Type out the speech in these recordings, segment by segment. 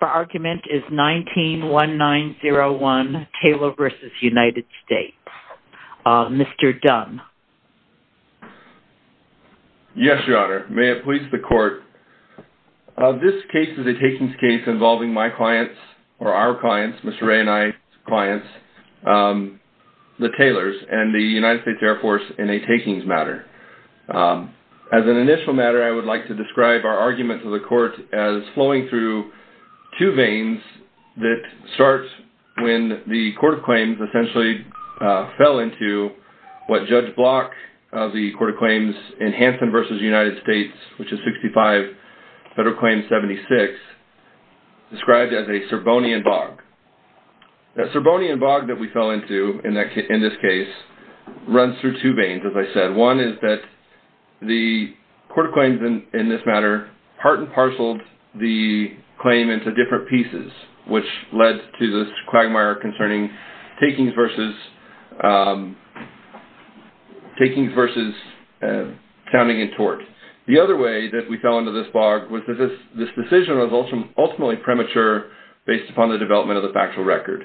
Our argument is 19-1901 Taylor v. United States. Mr. Dunn. Yes, Your Honor. May it please the court. This case is a takings case involving my clients or our clients, Mr. Ray and I's clients, the Taylors and the United States Air Force in a takings matter. As an initial matter, I would like to describe our argument to the court as flowing through two veins that start when the court of claims essentially fell into what Judge Block of the court of claims in Hanson v. United States, which is 65 Federal Claims 76, described as a Serbonian bog. That Serbonian bog that we fell into in this case runs through two veins, as I said. One is that the court of claims in this matter part parceled the claim into different pieces, which led to this quagmire concerning takings versus counting in tort. The other way that we fell into this bog was that this decision was ultimately premature based upon the development of the factual record.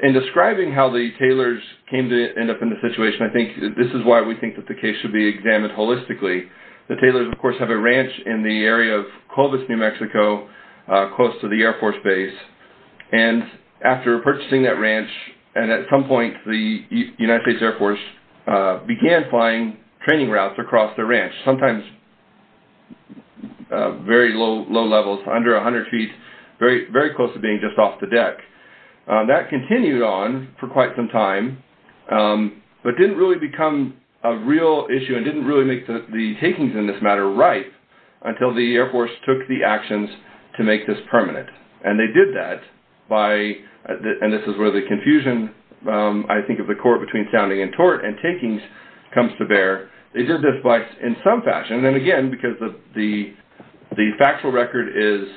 In describing how the Taylors came to end up in the situation, I think this is why we think that the case should be examined holistically. The Taylors, of course, have a ranch in the area of Clovis, New Mexico, close to the Air Force base. After purchasing that ranch, at some point the United States Air Force began flying training routes across the ranch, sometimes very low levels, under 100 feet, very close to being just off the deck. That continued on for quite some time, but didn't really become a real issue and didn't really make the takings in this matter right until the Air Force took the actions to make this permanent. They did that by, and this is where the confusion, I think, of the court between sounding in tort and takings comes to bear. They did this by, in some fashion, and again, because the factual record is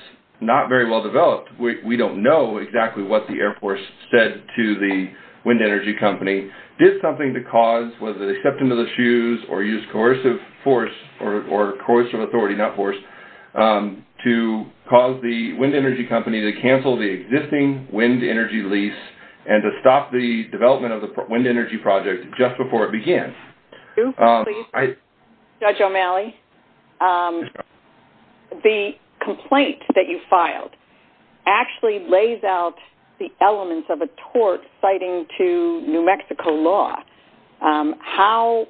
not very well developed, we don't know exactly what the Air Force said to the wind energy company. Did something to cause, whether they stepped into the shoes or used coercive force or coercive authority, not force, to cause the wind energy company to cancel the existing wind energy lease and to stop the development of the wind energy project just before it began. Judge O'Malley, the complaint that you filed actually lays out the elements of a tort citing to New Mexico law. How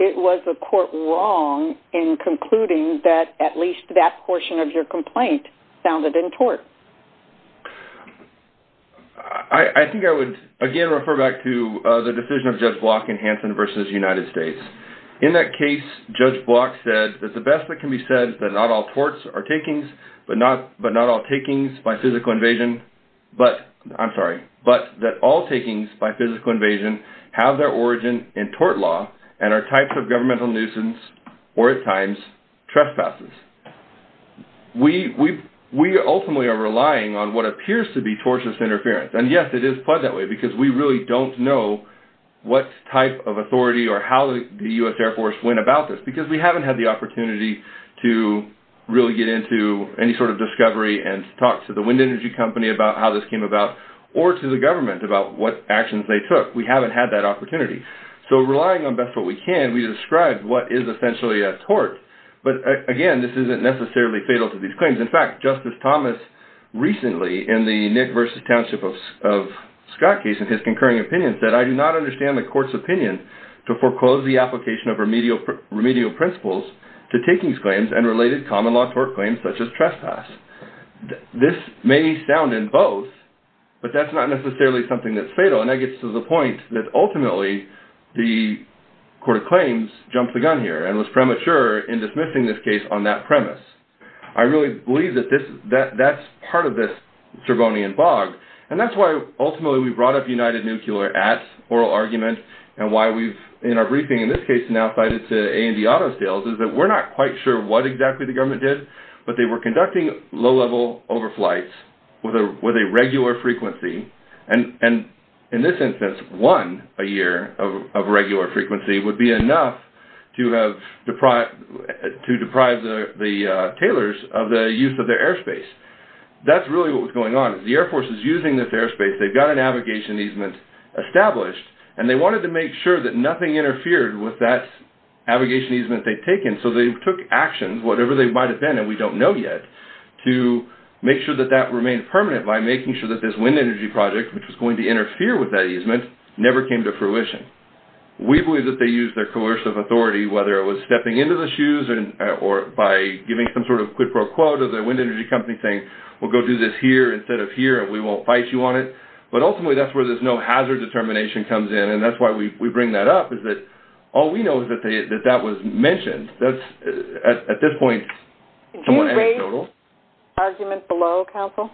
was the court wrong in concluding that at least that portion of your complaint sounded in tort? I think I would, again, refer back to the decision of Judge Block in Hanson v. United States. In that case, Judge Block said that the best that can be said is that not all torts are takings, but not all takings by physical invasion, I'm sorry, but that all takings by physical invasion have their origin in tort law and are types of governmental nuisance or, at times, trespasses. We ultimately are relying on what appears to be tortious interference, and yes, it is pleasantly, because we really don't know what type of authority or how the U.S. Air Force went about this because we haven't had the opportunity to really get into any sort of discovery and talk to the wind energy company about how this came about or to the government about what actions they took. We haven't had that opportunity, so relying on best what we can, we describe what is essentially a tort, but again, this isn't necessarily fatal to these claims. In fact, Justice Thomas recently, in the Nick v. Township of Scott case, in his concurring opinion, said, I do not understand the court's opinion to foreclose the application of remedial principles to takings claims and related common law tort claims such as trespass. This may be sound in both, but that's not necessarily something that's fatal, and that gets to the point that ultimately the court of claims jumped the gun here and was premature in dismissing this case on that premise. I really believe that that's part of this bog, and that's why ultimately we brought up United Nuclear at oral argument and why we've, in our briefing, in this case, now cited to A&E Auto Sales is that we're not quite sure what exactly the government did, but they were conducting low-level overflights with a regular frequency, and in this instance, one a year of regular frequency would be enough to deprive the tailors of the use of their airspace. That's really what was going on. The Air Force is using this airspace. They've got a navigation easement established, and they wanted to make sure that nothing interfered with that navigation easement they'd taken, so they took actions, whatever they might have been, and we don't know yet, to make sure that that remained permanent by making sure that this wind energy project, which was going to interfere with that easement, never came to fruition. We believe that they used their coercive authority, whether it was stepping into the shoes or by giving some sort of quid pro quo to the wind energy company saying, we'll go do this here instead of here, and we won't fight you on it, but ultimately, that's where this no-hazard determination comes in, and that's why we bring that up, is that all we know is that that was mentioned. That's, at this point, somewhat anecdotal. Did you raise the argument below, Counsel?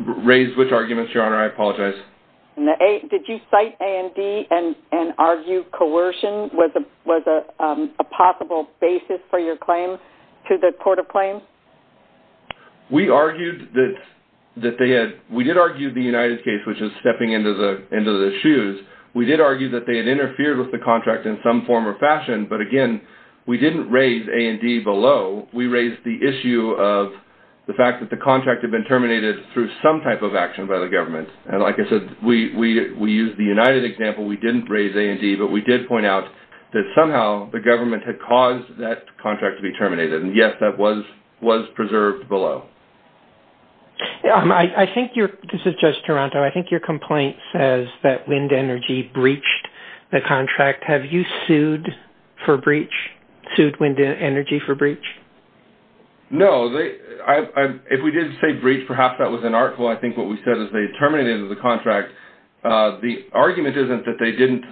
Raise which arguments, Your Honor? I apologize. Did you cite A&D and argue coercion was a possible basis for your claim to the Court of Claims? We argued that they had, we did argue the United case, which is stepping into the shoes. We did argue that they had interfered with the contract in some form or fashion, but again, we didn't raise A&D below. We raised the issue of the fact that the contract had been terminated through some type of action by the government, and like I said, we used the United example. We didn't raise A&D, but we did point out that somehow the government had caused that contract to be terminated, and yes, that was preserved below. This is Judge Taranto. I think your complaint says that wind energy breached the contract. Have you sued wind energy for breach? No. If we did say breach, perhaps that was an article. I think what we said is they terminated the contract. The argument isn't that they didn't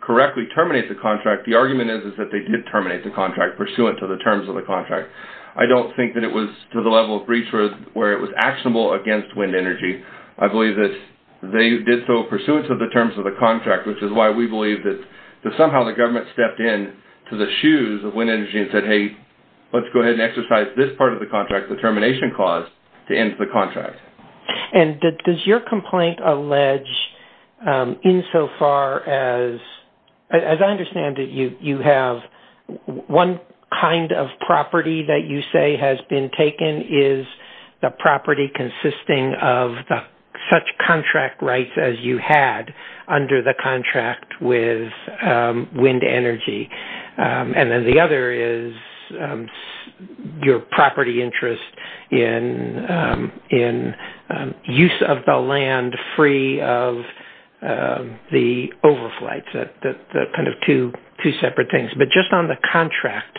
correctly terminate the contract. The argument is that they did terminate the contract pursuant to the terms of the contract. I don't think that it was to the level of breach where it was actionable against wind energy. I believe that they did so pursuant to the terms of the contract, which is why we believe that somehow the government stepped in to the shoes of wind energy and said, hey, let's go ahead and exercise this part of the contract, the termination clause, to end the contract. Does your complaint allege insofar as I understand that you have one kind of property that you say has been taken? Is the property consisting of such contract rights as you had under the contract with wind energy? And then the other is your property interest in use of the land free of the overflights, the kind of two separate things. Just on the contract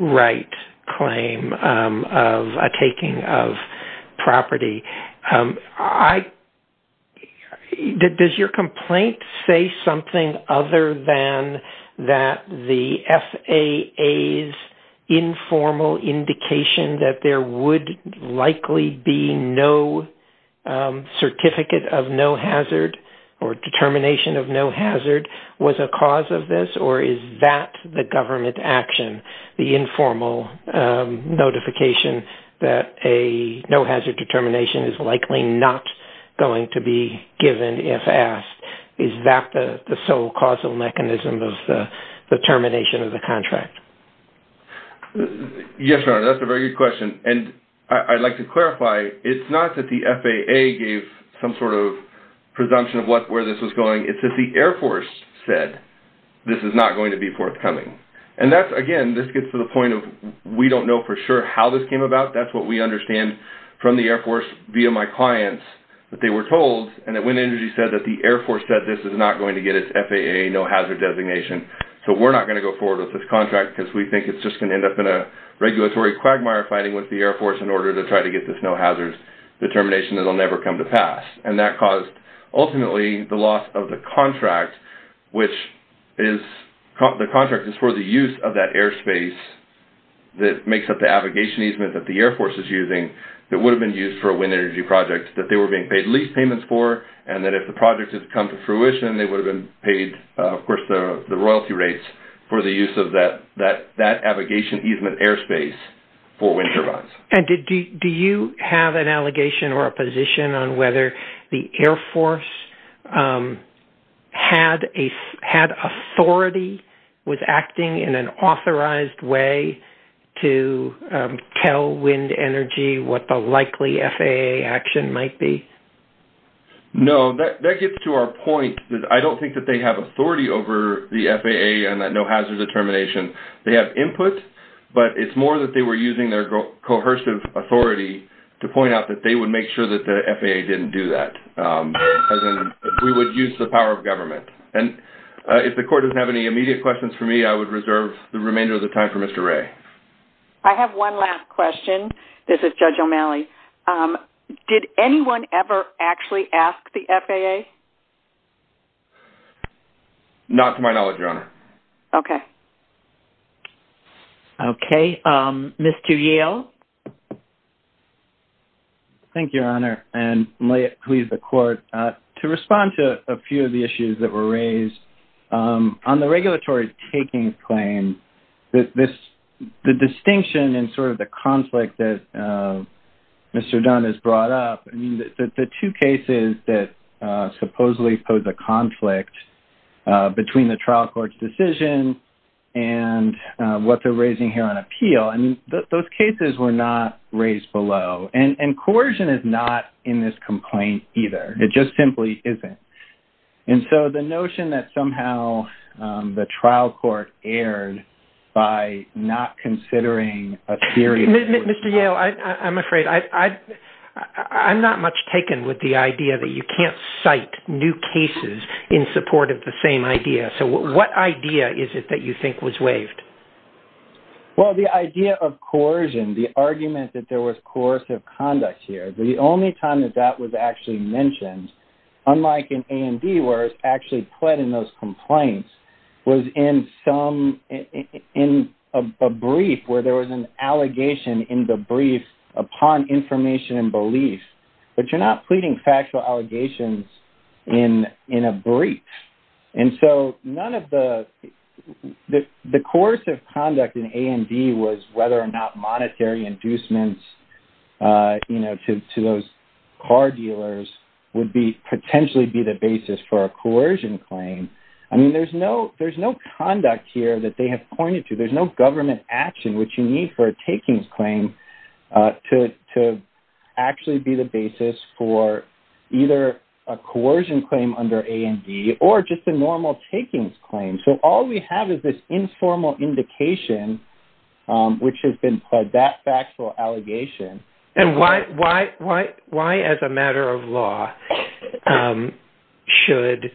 right claim of taking of property, does your complaint say something other than that the FAA's informal indication that there would likely be no certificate of no hazard or determination of no hazard was a cause of this? Or is that the government action, the informal notification that a no hazard determination is likely not going to be given if asked? Is that the sole causal mechanism of the termination of the contract? Yes, Your Honor, that's a very good question. And I'd like to clarify, it's not that the FAA gave some sort of presumption of where this was going. It's just the Air Force said this is not going to be forthcoming. And that's, again, this gets to the point of we don't know for sure how this came about. That's what we understand from the Air Force via my clients that they were told and that wind energy said that the Air Force said this is not going to get its FAA no hazard designation. So we're not going to go forward with this contract because we think it's just going to end up in a regulatory quagmire fighting with the Air Force in order to try to get this no hazards determination that will never come to pass. And that caused, ultimately, the loss of the contract, which is, the contract is for the use of that airspace that makes up the avigation easement that the Air Force is using that would have been used for a wind energy project that they were being paid lease payments for. And that if the project had come to fruition, they would have been paid, of course, the royalty rates for the use of that avigation easement airspace for wind turbines. And do you have an allegation or a position on whether the Air Force had authority, was acting in an authorized way to tell wind energy what the likely FAA action might be? No, that gets to our point. I don't think that they have authority over the FAA and that we're using their coercive authority to point out that they would make sure that the FAA didn't do that. We would use the power of government. And if the court doesn't have any immediate questions for me, I would reserve the remainder of the time for Mr. Ray. I have one last question. This is Judge O'Malley. Did anyone ever actually ask the FAA? Not to my knowledge, Your Honor. Okay. Okay. Mr. Yale. Thank you, Your Honor, and may it please the court. To respond to a few of the issues that were raised, on the regulatory takings claim, the distinction and sort of the conflict that Mr. Dunn has brought up, the two cases that supposedly pose a conflict between the trial court's decision and what they're raising here on appeal, those cases were not raised below. And coercion is not in this complaint either. It just simply isn't. And so the notion that somehow the trial court erred by not considering a theory. Mr. Yale, I'm afraid I'm not much taken with the idea that you can't cite new cases in support of the same idea. So what idea is it that you think was waived? Well, the idea of coercion, the argument that there was coercive conduct here, the only time that that was actually mentioned, unlike in A&D where it's actually pled in those complaints, was in a brief where there was an allegation in the brief upon information and belief. But you're not pleading factual allegations in a brief. And so none of the... was whether or not monetary inducements to those car dealers would potentially be the basis for a coercion claim. I mean, there's no conduct here that they have pointed to. There's no government action, which you need for a takings claim to actually be the basis for either a coercion claim under A&D or just a normal takings claim. So all we have is this informal indication, which has been pled, that factual allegation. And why as a matter of law should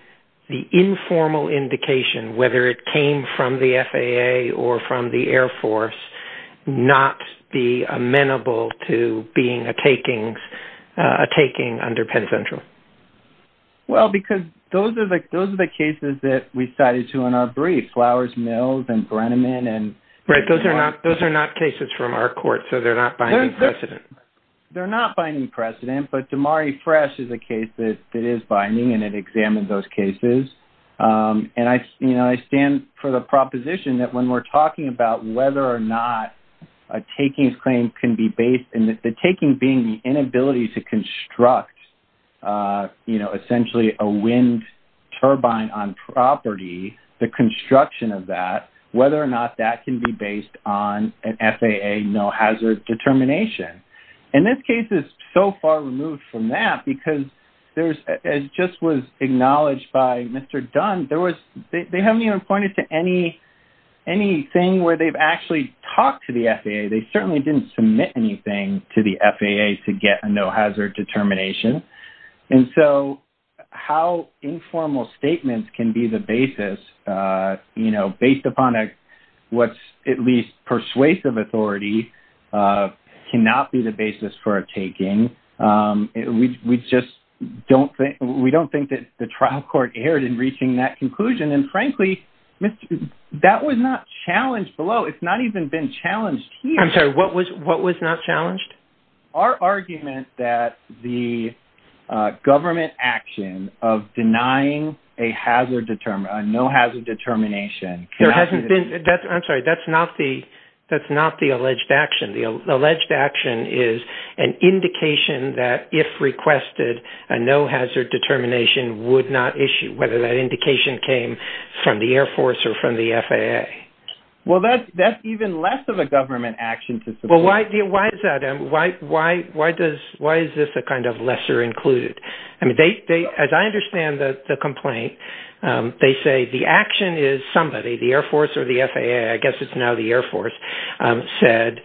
the informal indication, whether it came from the FAA or from the Air Force, not be amenable to being a takings, a taking under Penn Central? Well, because those are the cases that we cited to in our brief, Flowers Mills and Brenneman and... Right. Those are not cases from our court. So they're not binding precedent. They're not binding precedent. But Damari Fresh is a case that is binding and it examined those cases. And I stand for the proposition that when we're talking about whether or not a takings claim can be based in the taking being the inability to construct essentially a wind turbine on property, the construction of that, whether or not that can be based on an FAA no hazard determination. And this case is so far removed from that because it just was acknowledged by Mr. Dunn. They haven't even pointed to anything where they've actually talked to the FAA. They certainly didn't submit anything to the FAA to get a no hazard determination. And so how informal statements can be the basis based upon what's at least persuasive authority cannot be the basis for a taking. We don't think that the trial court erred in reaching that conclusion. And frankly, that was not challenged below. It's not even been challenged here. I'm sorry, what was not challenged? Our argument that the government action of denying a no hazard determination. I'm sorry, that's not the alleged action. The alleged action is an indication that if requested a no hazard determination would not issue whether that indication came from the Air Force or from the FAA. Well, that's even less of a government action. Well, why is that? Why is this a kind of lesser included? I mean, as I understand the complaint, they say the action is somebody, the Air Force or the FAA, I guess it's now the Air Force, said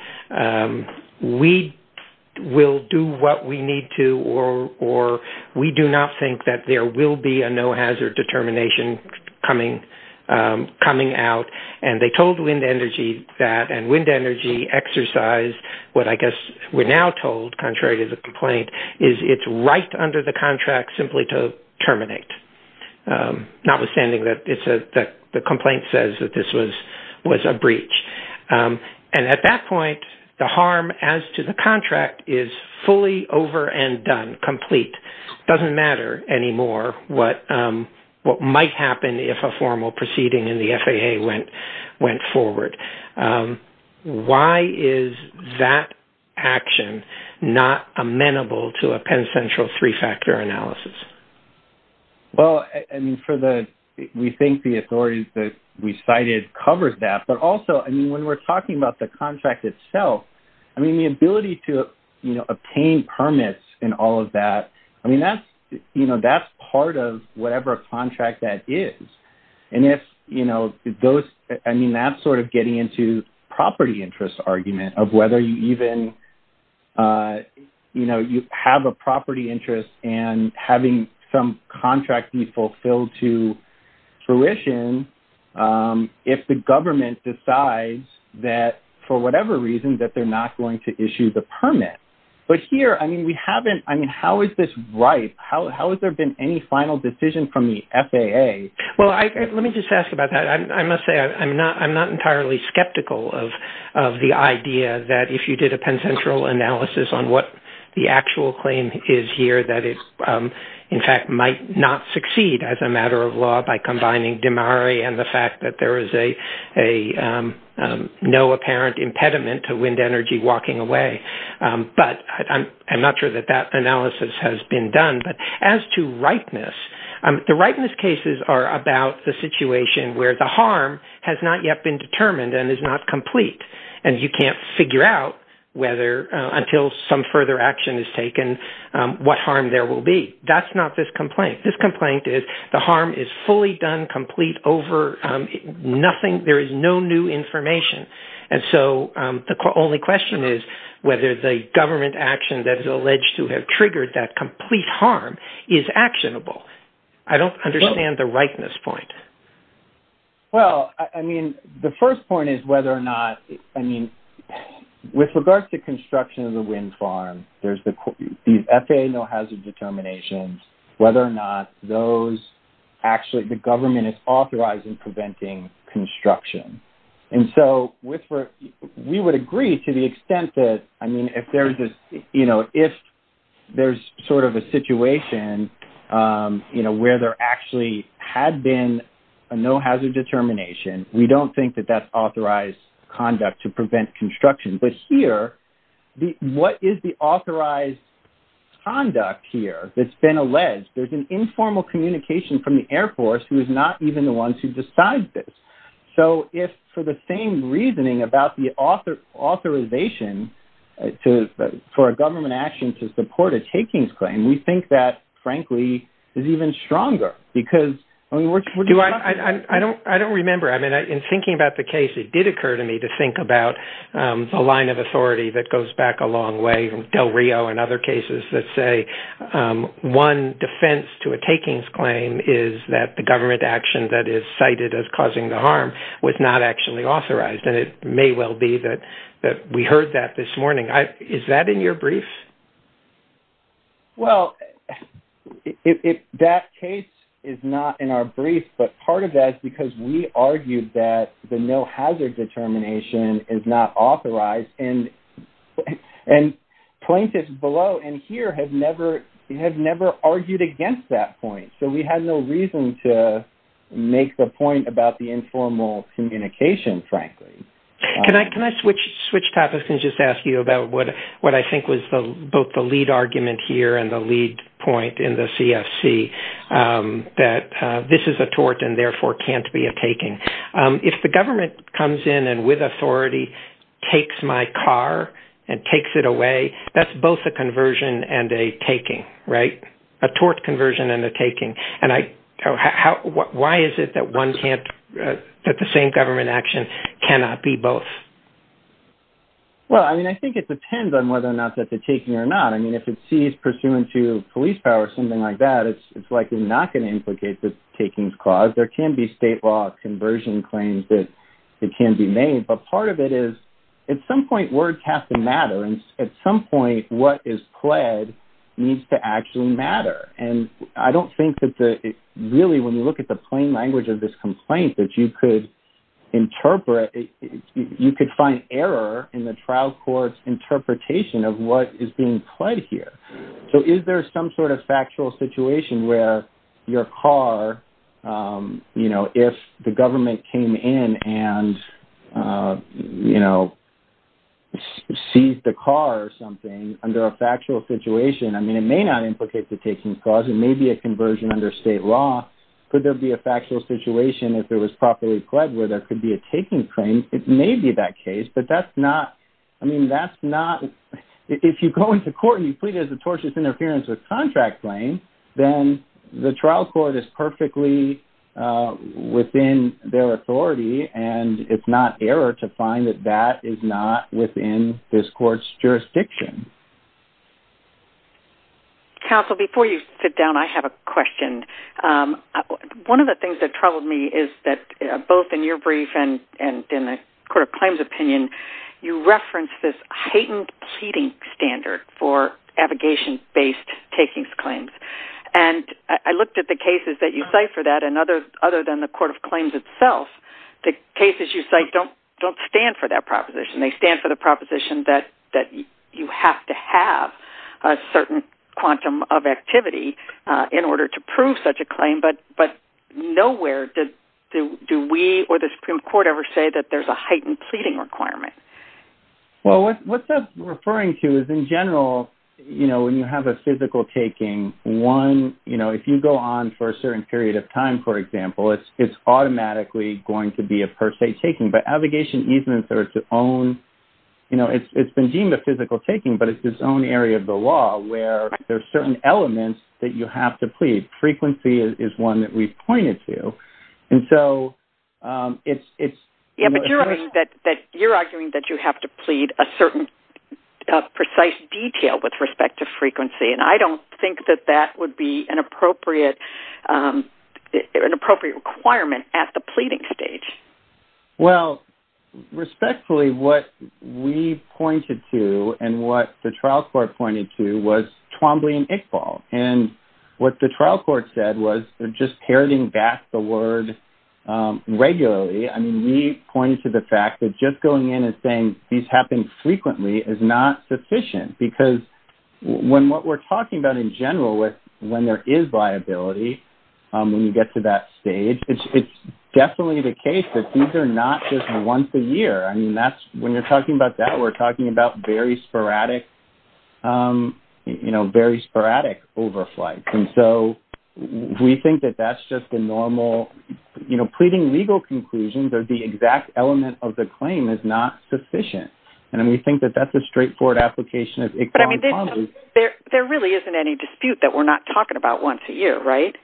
we will do what we need to or we do not think that there will be a no hazard determination coming out. And they told Wind Energy that and Wind Energy exercised what I guess we're now told, contrary to the complaint, is it's right under the contract simply to terminate. Notwithstanding that the complaint says that this was a breach. And at that point, the harm as to the contract is fully over and done, complete. It doesn't matter anymore what might happen if a formal proceeding in the FAA went forward. Why is that action not amenable to a Penn Central three-factor analysis? Well, I mean, we think the authorities that we cited covered that. But also, when we're talking about the contract itself, I mean, the ability to obtain permits and all of that, I mean, that's part of whatever contract that is. And that's sort of getting into property interest argument of whether you even have a property interest and having some contract be that for whatever reason that they're not going to issue the permit. But here, I mean, we haven't, I mean, how is this right? How has there been any final decision from the FAA? Well, let me just ask about that. I must say, I'm not entirely skeptical of the idea that if you did a Penn Central analysis on what the actual claim is here that it, in fact, might not succeed as a and the fact that there is no apparent impediment to wind energy walking away. But I'm not sure that that analysis has been done. But as to rightness, the rightness cases are about the situation where the harm has not yet been determined and is not complete. And you can't figure out whether until some further action is taken, what harm there will be. That's not this complete over nothing. There is no new information. And so the only question is whether the government action that is alleged to have triggered that complete harm is actionable. I don't understand the rightness point. Well, I mean, the first point is whether or not, I mean, with regards to construction of the wind there's the FAA no hazard determinations, whether or not those actually, the government is authorized in preventing construction. And so with, we would agree to the extent that, I mean, if there's this, you know, if there's sort of a situation, you know, where there actually had been a no hazard determination, we don't think that that's authorized conduct to prevent construction. But here, what is the authorized conduct here that's been alleged? There's an informal communication from the Air Force who is not even the ones who decide this. So if for the same reasoning about the authorization for a government action to support a takings claim, we think that frankly is even stronger because... I don't remember. I mean, in thinking about the case, it did occur to me to think about a line of authority that goes back a long way from Del Rio and other cases that say one defense to a takings claim is that the government action that is cited as causing the harm was not actually authorized. And it may well be that we heard that this morning. Is that in your brief? Well, that case is not in our brief, but part of that is because we argued that the no hazard determination is not authorized. And plaintiffs below and here have never argued against that point. So we had no reason to make the point about the informal communication, frankly. Can I switch topics and just ask you about what I think was both the lead argument here and the lead point in the CFC that this is a tort and therefore can't be a taking. If the government comes in and with authority takes my car and takes it away, that's both a conversion and a taking, right? A tort conversion and a taking. And why is it that the same government action cannot be both? Well, I mean, I think it depends on whether or not that's a taking or not. I mean, if it sees pursuant to police power, something like that, it's likely not going to implicate the taking's cause. There can be state law conversion claims that can be made. But part of it is at some point, words have to matter. And at some point, what is pled needs to actually matter. And I don't think that really, when you look at the plain language of this complaint, that you could interpret, you could find error in the trial court's interpretation of what is pled here. So is there some sort of factual situation where your car, you know, if the government came in and, you know, seized the car or something under a factual situation, I mean, it may not implicate the taking's cause. It may be a conversion under state law. Could there be a factual situation if it was properly pled where there could be a taking claim? It may be that case, but that's not, I mean, that's not, if you go into court and you plead as a tortious interference with contract claim, then the trial court is perfectly within their authority. And it's not error to find that that is not within this court's jurisdiction. Counsel, before you sit down, I have a question. One of the things that in the Court of Claims opinion, you referenced this heightened pleading standard for abrogation-based taking claims. And I looked at the cases that you cite for that, and other than the Court of Claims itself, the cases you cite don't stand for that proposition. They stand for the proposition that you have to have a certain quantum of activity in order to prove such a claim, but nowhere do we or the Supreme Court ever say that there's a heightened pleading requirement. Well, what that's referring to is in general, you know, when you have a physical taking, one, you know, if you go on for a certain period of time, for example, it's automatically going to be a per se taking, but abrogation easements are its own, you know, it's been deemed a physical taking, but it's its own area of the law where there's certain elements that you have to plead. Frequency is one that we've pointed to. And so, it's... Yeah, but you're arguing that you have to plead a certain precise detail with respect to frequency, and I don't think that that would be an appropriate requirement at the pleading stage. Well, respectfully, what we pointed to and what the trial court pointed to was Twombly and Iqbal. And what the trial court said was they're just parroting back the word regularly. I mean, we pointed to the fact that just going in and saying these happen frequently is not sufficient, because when what we're talking about in general with when there is viability, when you get to that stage, it's definitely the case that these are not just once a year. I mean, when you're talking about that, we're talking about very sporadic, you know, very sporadic overflights. And so, we think that that's just the normal, you know, pleading legal conclusions or the exact element of the claim is not sufficient. And we think that that's a straightforward application of Iqbal and Twombly. There really isn't any dispute that we're not talking about once a year, right?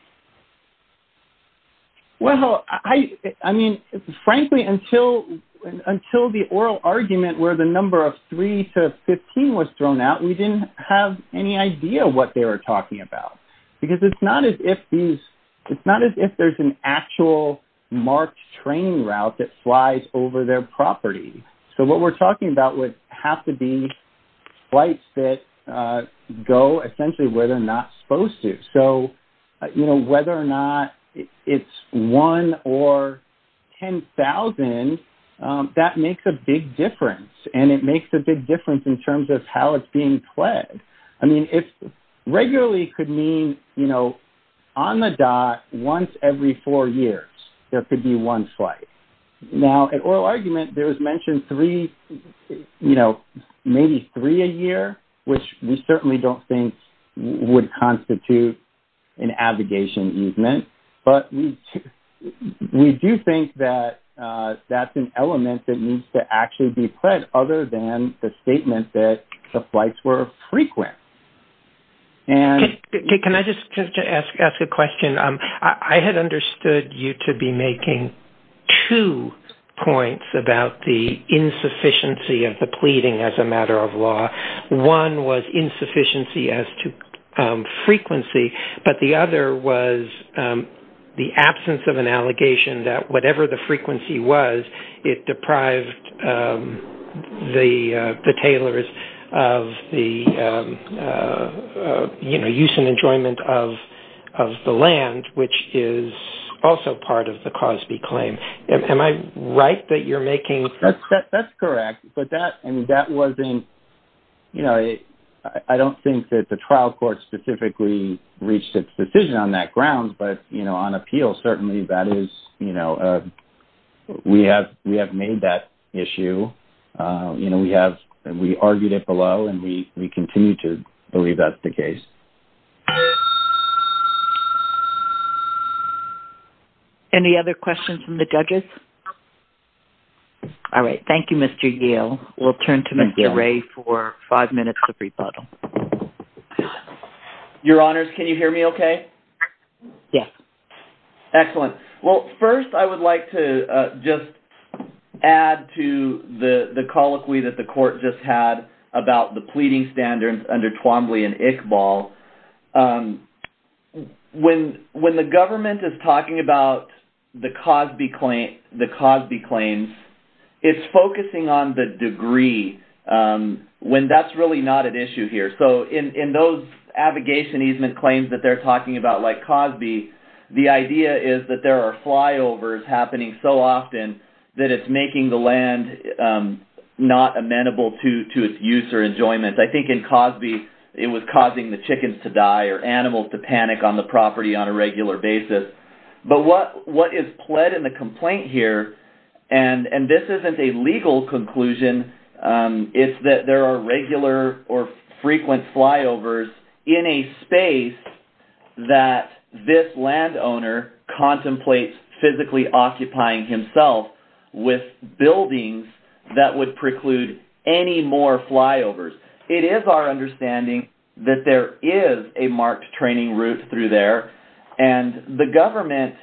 Well, I mean, frankly, until the oral argument where the number of 3 to 15 was thrown out, we didn't have any idea what they were talking about. Because it's not as if these, it's not as if there's an actual marked training route that flies over their property. So, what we're talking about would have to be flights that go essentially where they're not supposed to. So, you know, whether or not it's 1 or 10,000, that makes a big difference. And it makes a big difference in terms of how it's being pledged. I mean, it regularly could mean, you know, on the dot, once every four years, there could be one flight. Now, at oral argument, there was mentioned three, you know, maybe three a year, which we certainly don't think would constitute an abrogation easement. But we do think that that's an element that needs to actually be pledged other than the statement that the flights were frequent. And... Can I just ask a question? I had understood you to be making two points about the insufficiency of the pleading as a matter of law. One was insufficiency as to frequency, but the other was the absence of an allegation that whatever the frequency was, it deprived the tailors of the, you know, use and enjoyment of the land, which is also part of the Cosby claim. Am I right that you're making... That's correct. But that, I mean, that wasn't, you know, I don't think that the trial court specifically reached its decision on that grounds. But, you know, on appeal, certainly that is, you know, we have made that issue. You know, we have, we argued it below and we continue to believe that's the case. Any other questions from the judges? All right. Thank you, Mr. Yale. We'll turn to Mr. Ray for five minutes of rebuttal. Your honors, can you hear me okay? Yes. Excellent. Well, first I would like to just add to the colloquy that the court just had about the pleading standards under Twombly and Iqbal. When the government is talking about the Cosby claims, it's focusing on the degree when that's really not an issue here. So, in those abrogation easement claims that they're talking about like Cosby, the idea is that there are flyovers happening so often that it's making the land not amenable to its use or enjoyment. I think in Cosby, it was causing the chickens to die or animals to panic on the property on a regular basis. But what is pled in the complaint here, and this isn't a legal conclusion, is that there are regular or frequent flyovers in a space that this landowner contemplates physically occupying himself with buildings that would preclude any more flyovers. It is our understanding that there is a marked training route through there and the government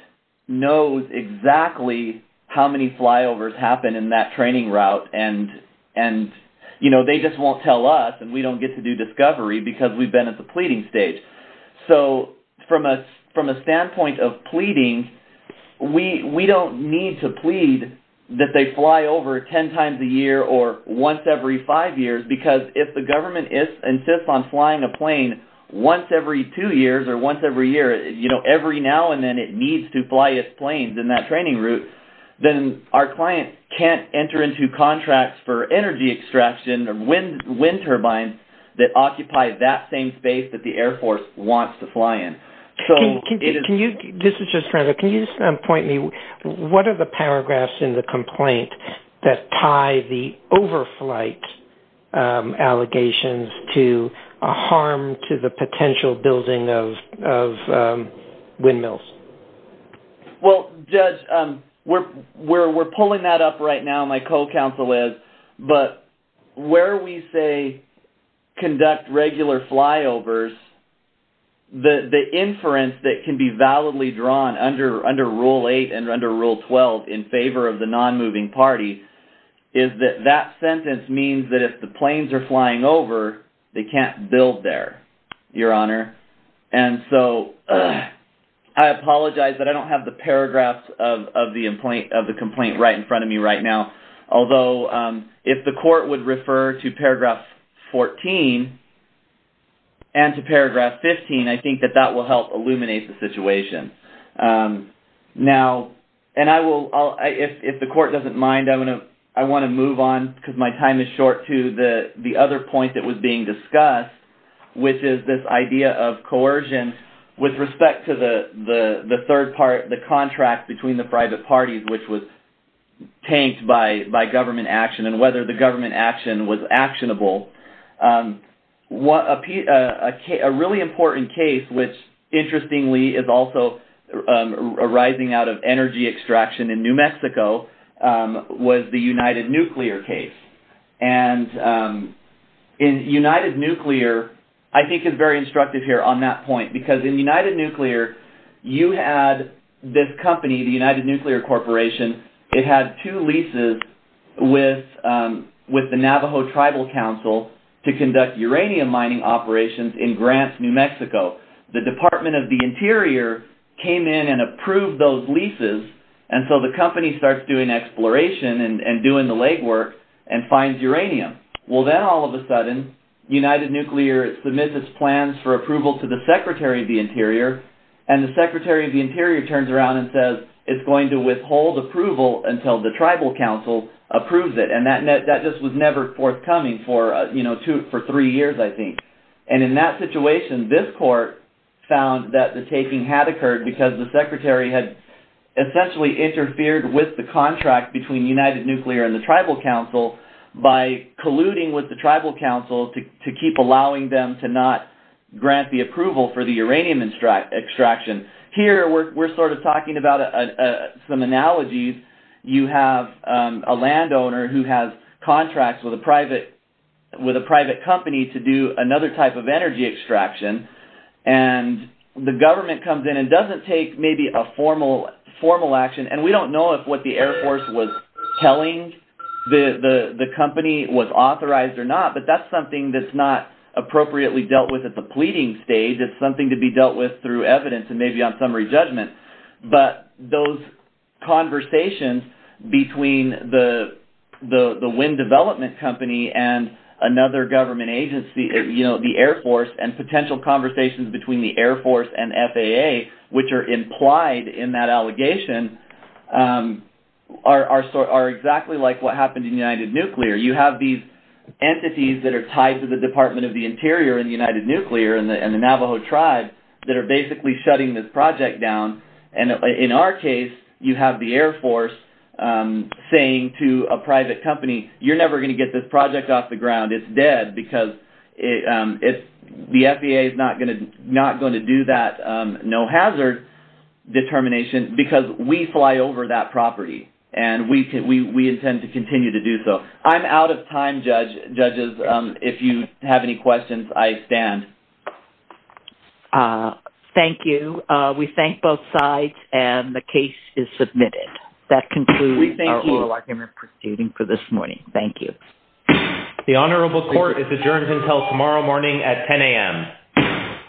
knows exactly how many flyovers happen in that training route and they just won't tell us and we don't get to do discovery because we've been at the pleading stage. So, from a standpoint of pleading, we don't need to plead that they fly over 10 times a year or once every five years because if the government insists on flying a plane once every two years or once every year, you know, every now and then it needs to fly its planes in that training route, then our client can't enter into contracts for energy extraction or wind turbines that the Air Force wants to fly in. Can you just point me, what are the paragraphs in the complaint that tie the overflight allegations to a harm to the potential building of windmills? Well, Judge, we're pulling that up right now, my co-counsel is, but where we say conduct regular flyovers, the inference that can be validly drawn under Rule 8 and under Rule 12 in favor of the non-moving party is that that sentence means that if the planes are flying over, they can't build there, Your Honor, and so I apologize that I don't have the paragraphs of the complaint right in front of me right now, although if the court would refer to paragraph 14 and to paragraph 15, I think that that will help illuminate the situation. Now, and I will, if the court doesn't mind, I'm going to, I want to move on because my time is short to the other point that was being discussed, which is this idea of coercion with respect to the third part, the contract between the private parties, which was tanked by government action and whether the government action was actionable. A really important case, which interestingly is also arising out of energy extraction in New Mexico, was the United Nuclear case, and United Nuclear, I think, is very instructive here on that point because in United Nuclear, you had this company, the United Nuclear Corporation, it had two leases with the Navajo Tribal Council to conduct uranium mining operations in Grants, New Mexico. The Department of the Interior came in and approved those leases, and so the company starts doing exploration and doing the legwork and finds uranium. Well, then all of a sudden, United Nuclear submits its plans for approval to the Secretary of the Interior, and the Secretary of the Interior turns around and says, it's going to withhold approval until the Tribal Council approves it, and that just was never forthcoming for three years, I think. And in that situation, this court found that the taking had occurred because the Secretary had essentially interfered with the contract between United Nuclear and the Tribal Council by colluding with the Tribal Council to keep allowing them to not grant the approval for the uranium extraction. Here, we're sort of talking about some analogies. You have a landowner who has contracts with a private company to do another type of energy extraction, and the government comes in and doesn't take maybe a formal action, and we don't know if what the Air Force was telling the company was authorized or not, but that's something that's not appropriately dealt with at the pleading stage. It's something to be dealt with through evidence and maybe on summary judgment, but those conversations between the wind development company and another government agency, the Air Force, and potential conversations between the Air Force and FAA, which are implied in that allegation, are exactly like what happened in United Nuclear. You have these entities that are tied to the Department of the Interior in United Nuclear and the Navajo Tribe that are basically shutting this project down, and in our case, you have the Air Force saying to a private company, you're never going to get this project off the ground. It's dead because the FAA is not going to do that no-hazard determination because we fly over that property, and we intend to continue to do so. I'm out of time, judges. If you have any questions, I stand. Thank you. We thank both sides, and the case is submitted. That concludes our oral argument proceeding for this morning. Thank you. The honorable court is adjourned until tomorrow morning at 10 a.m.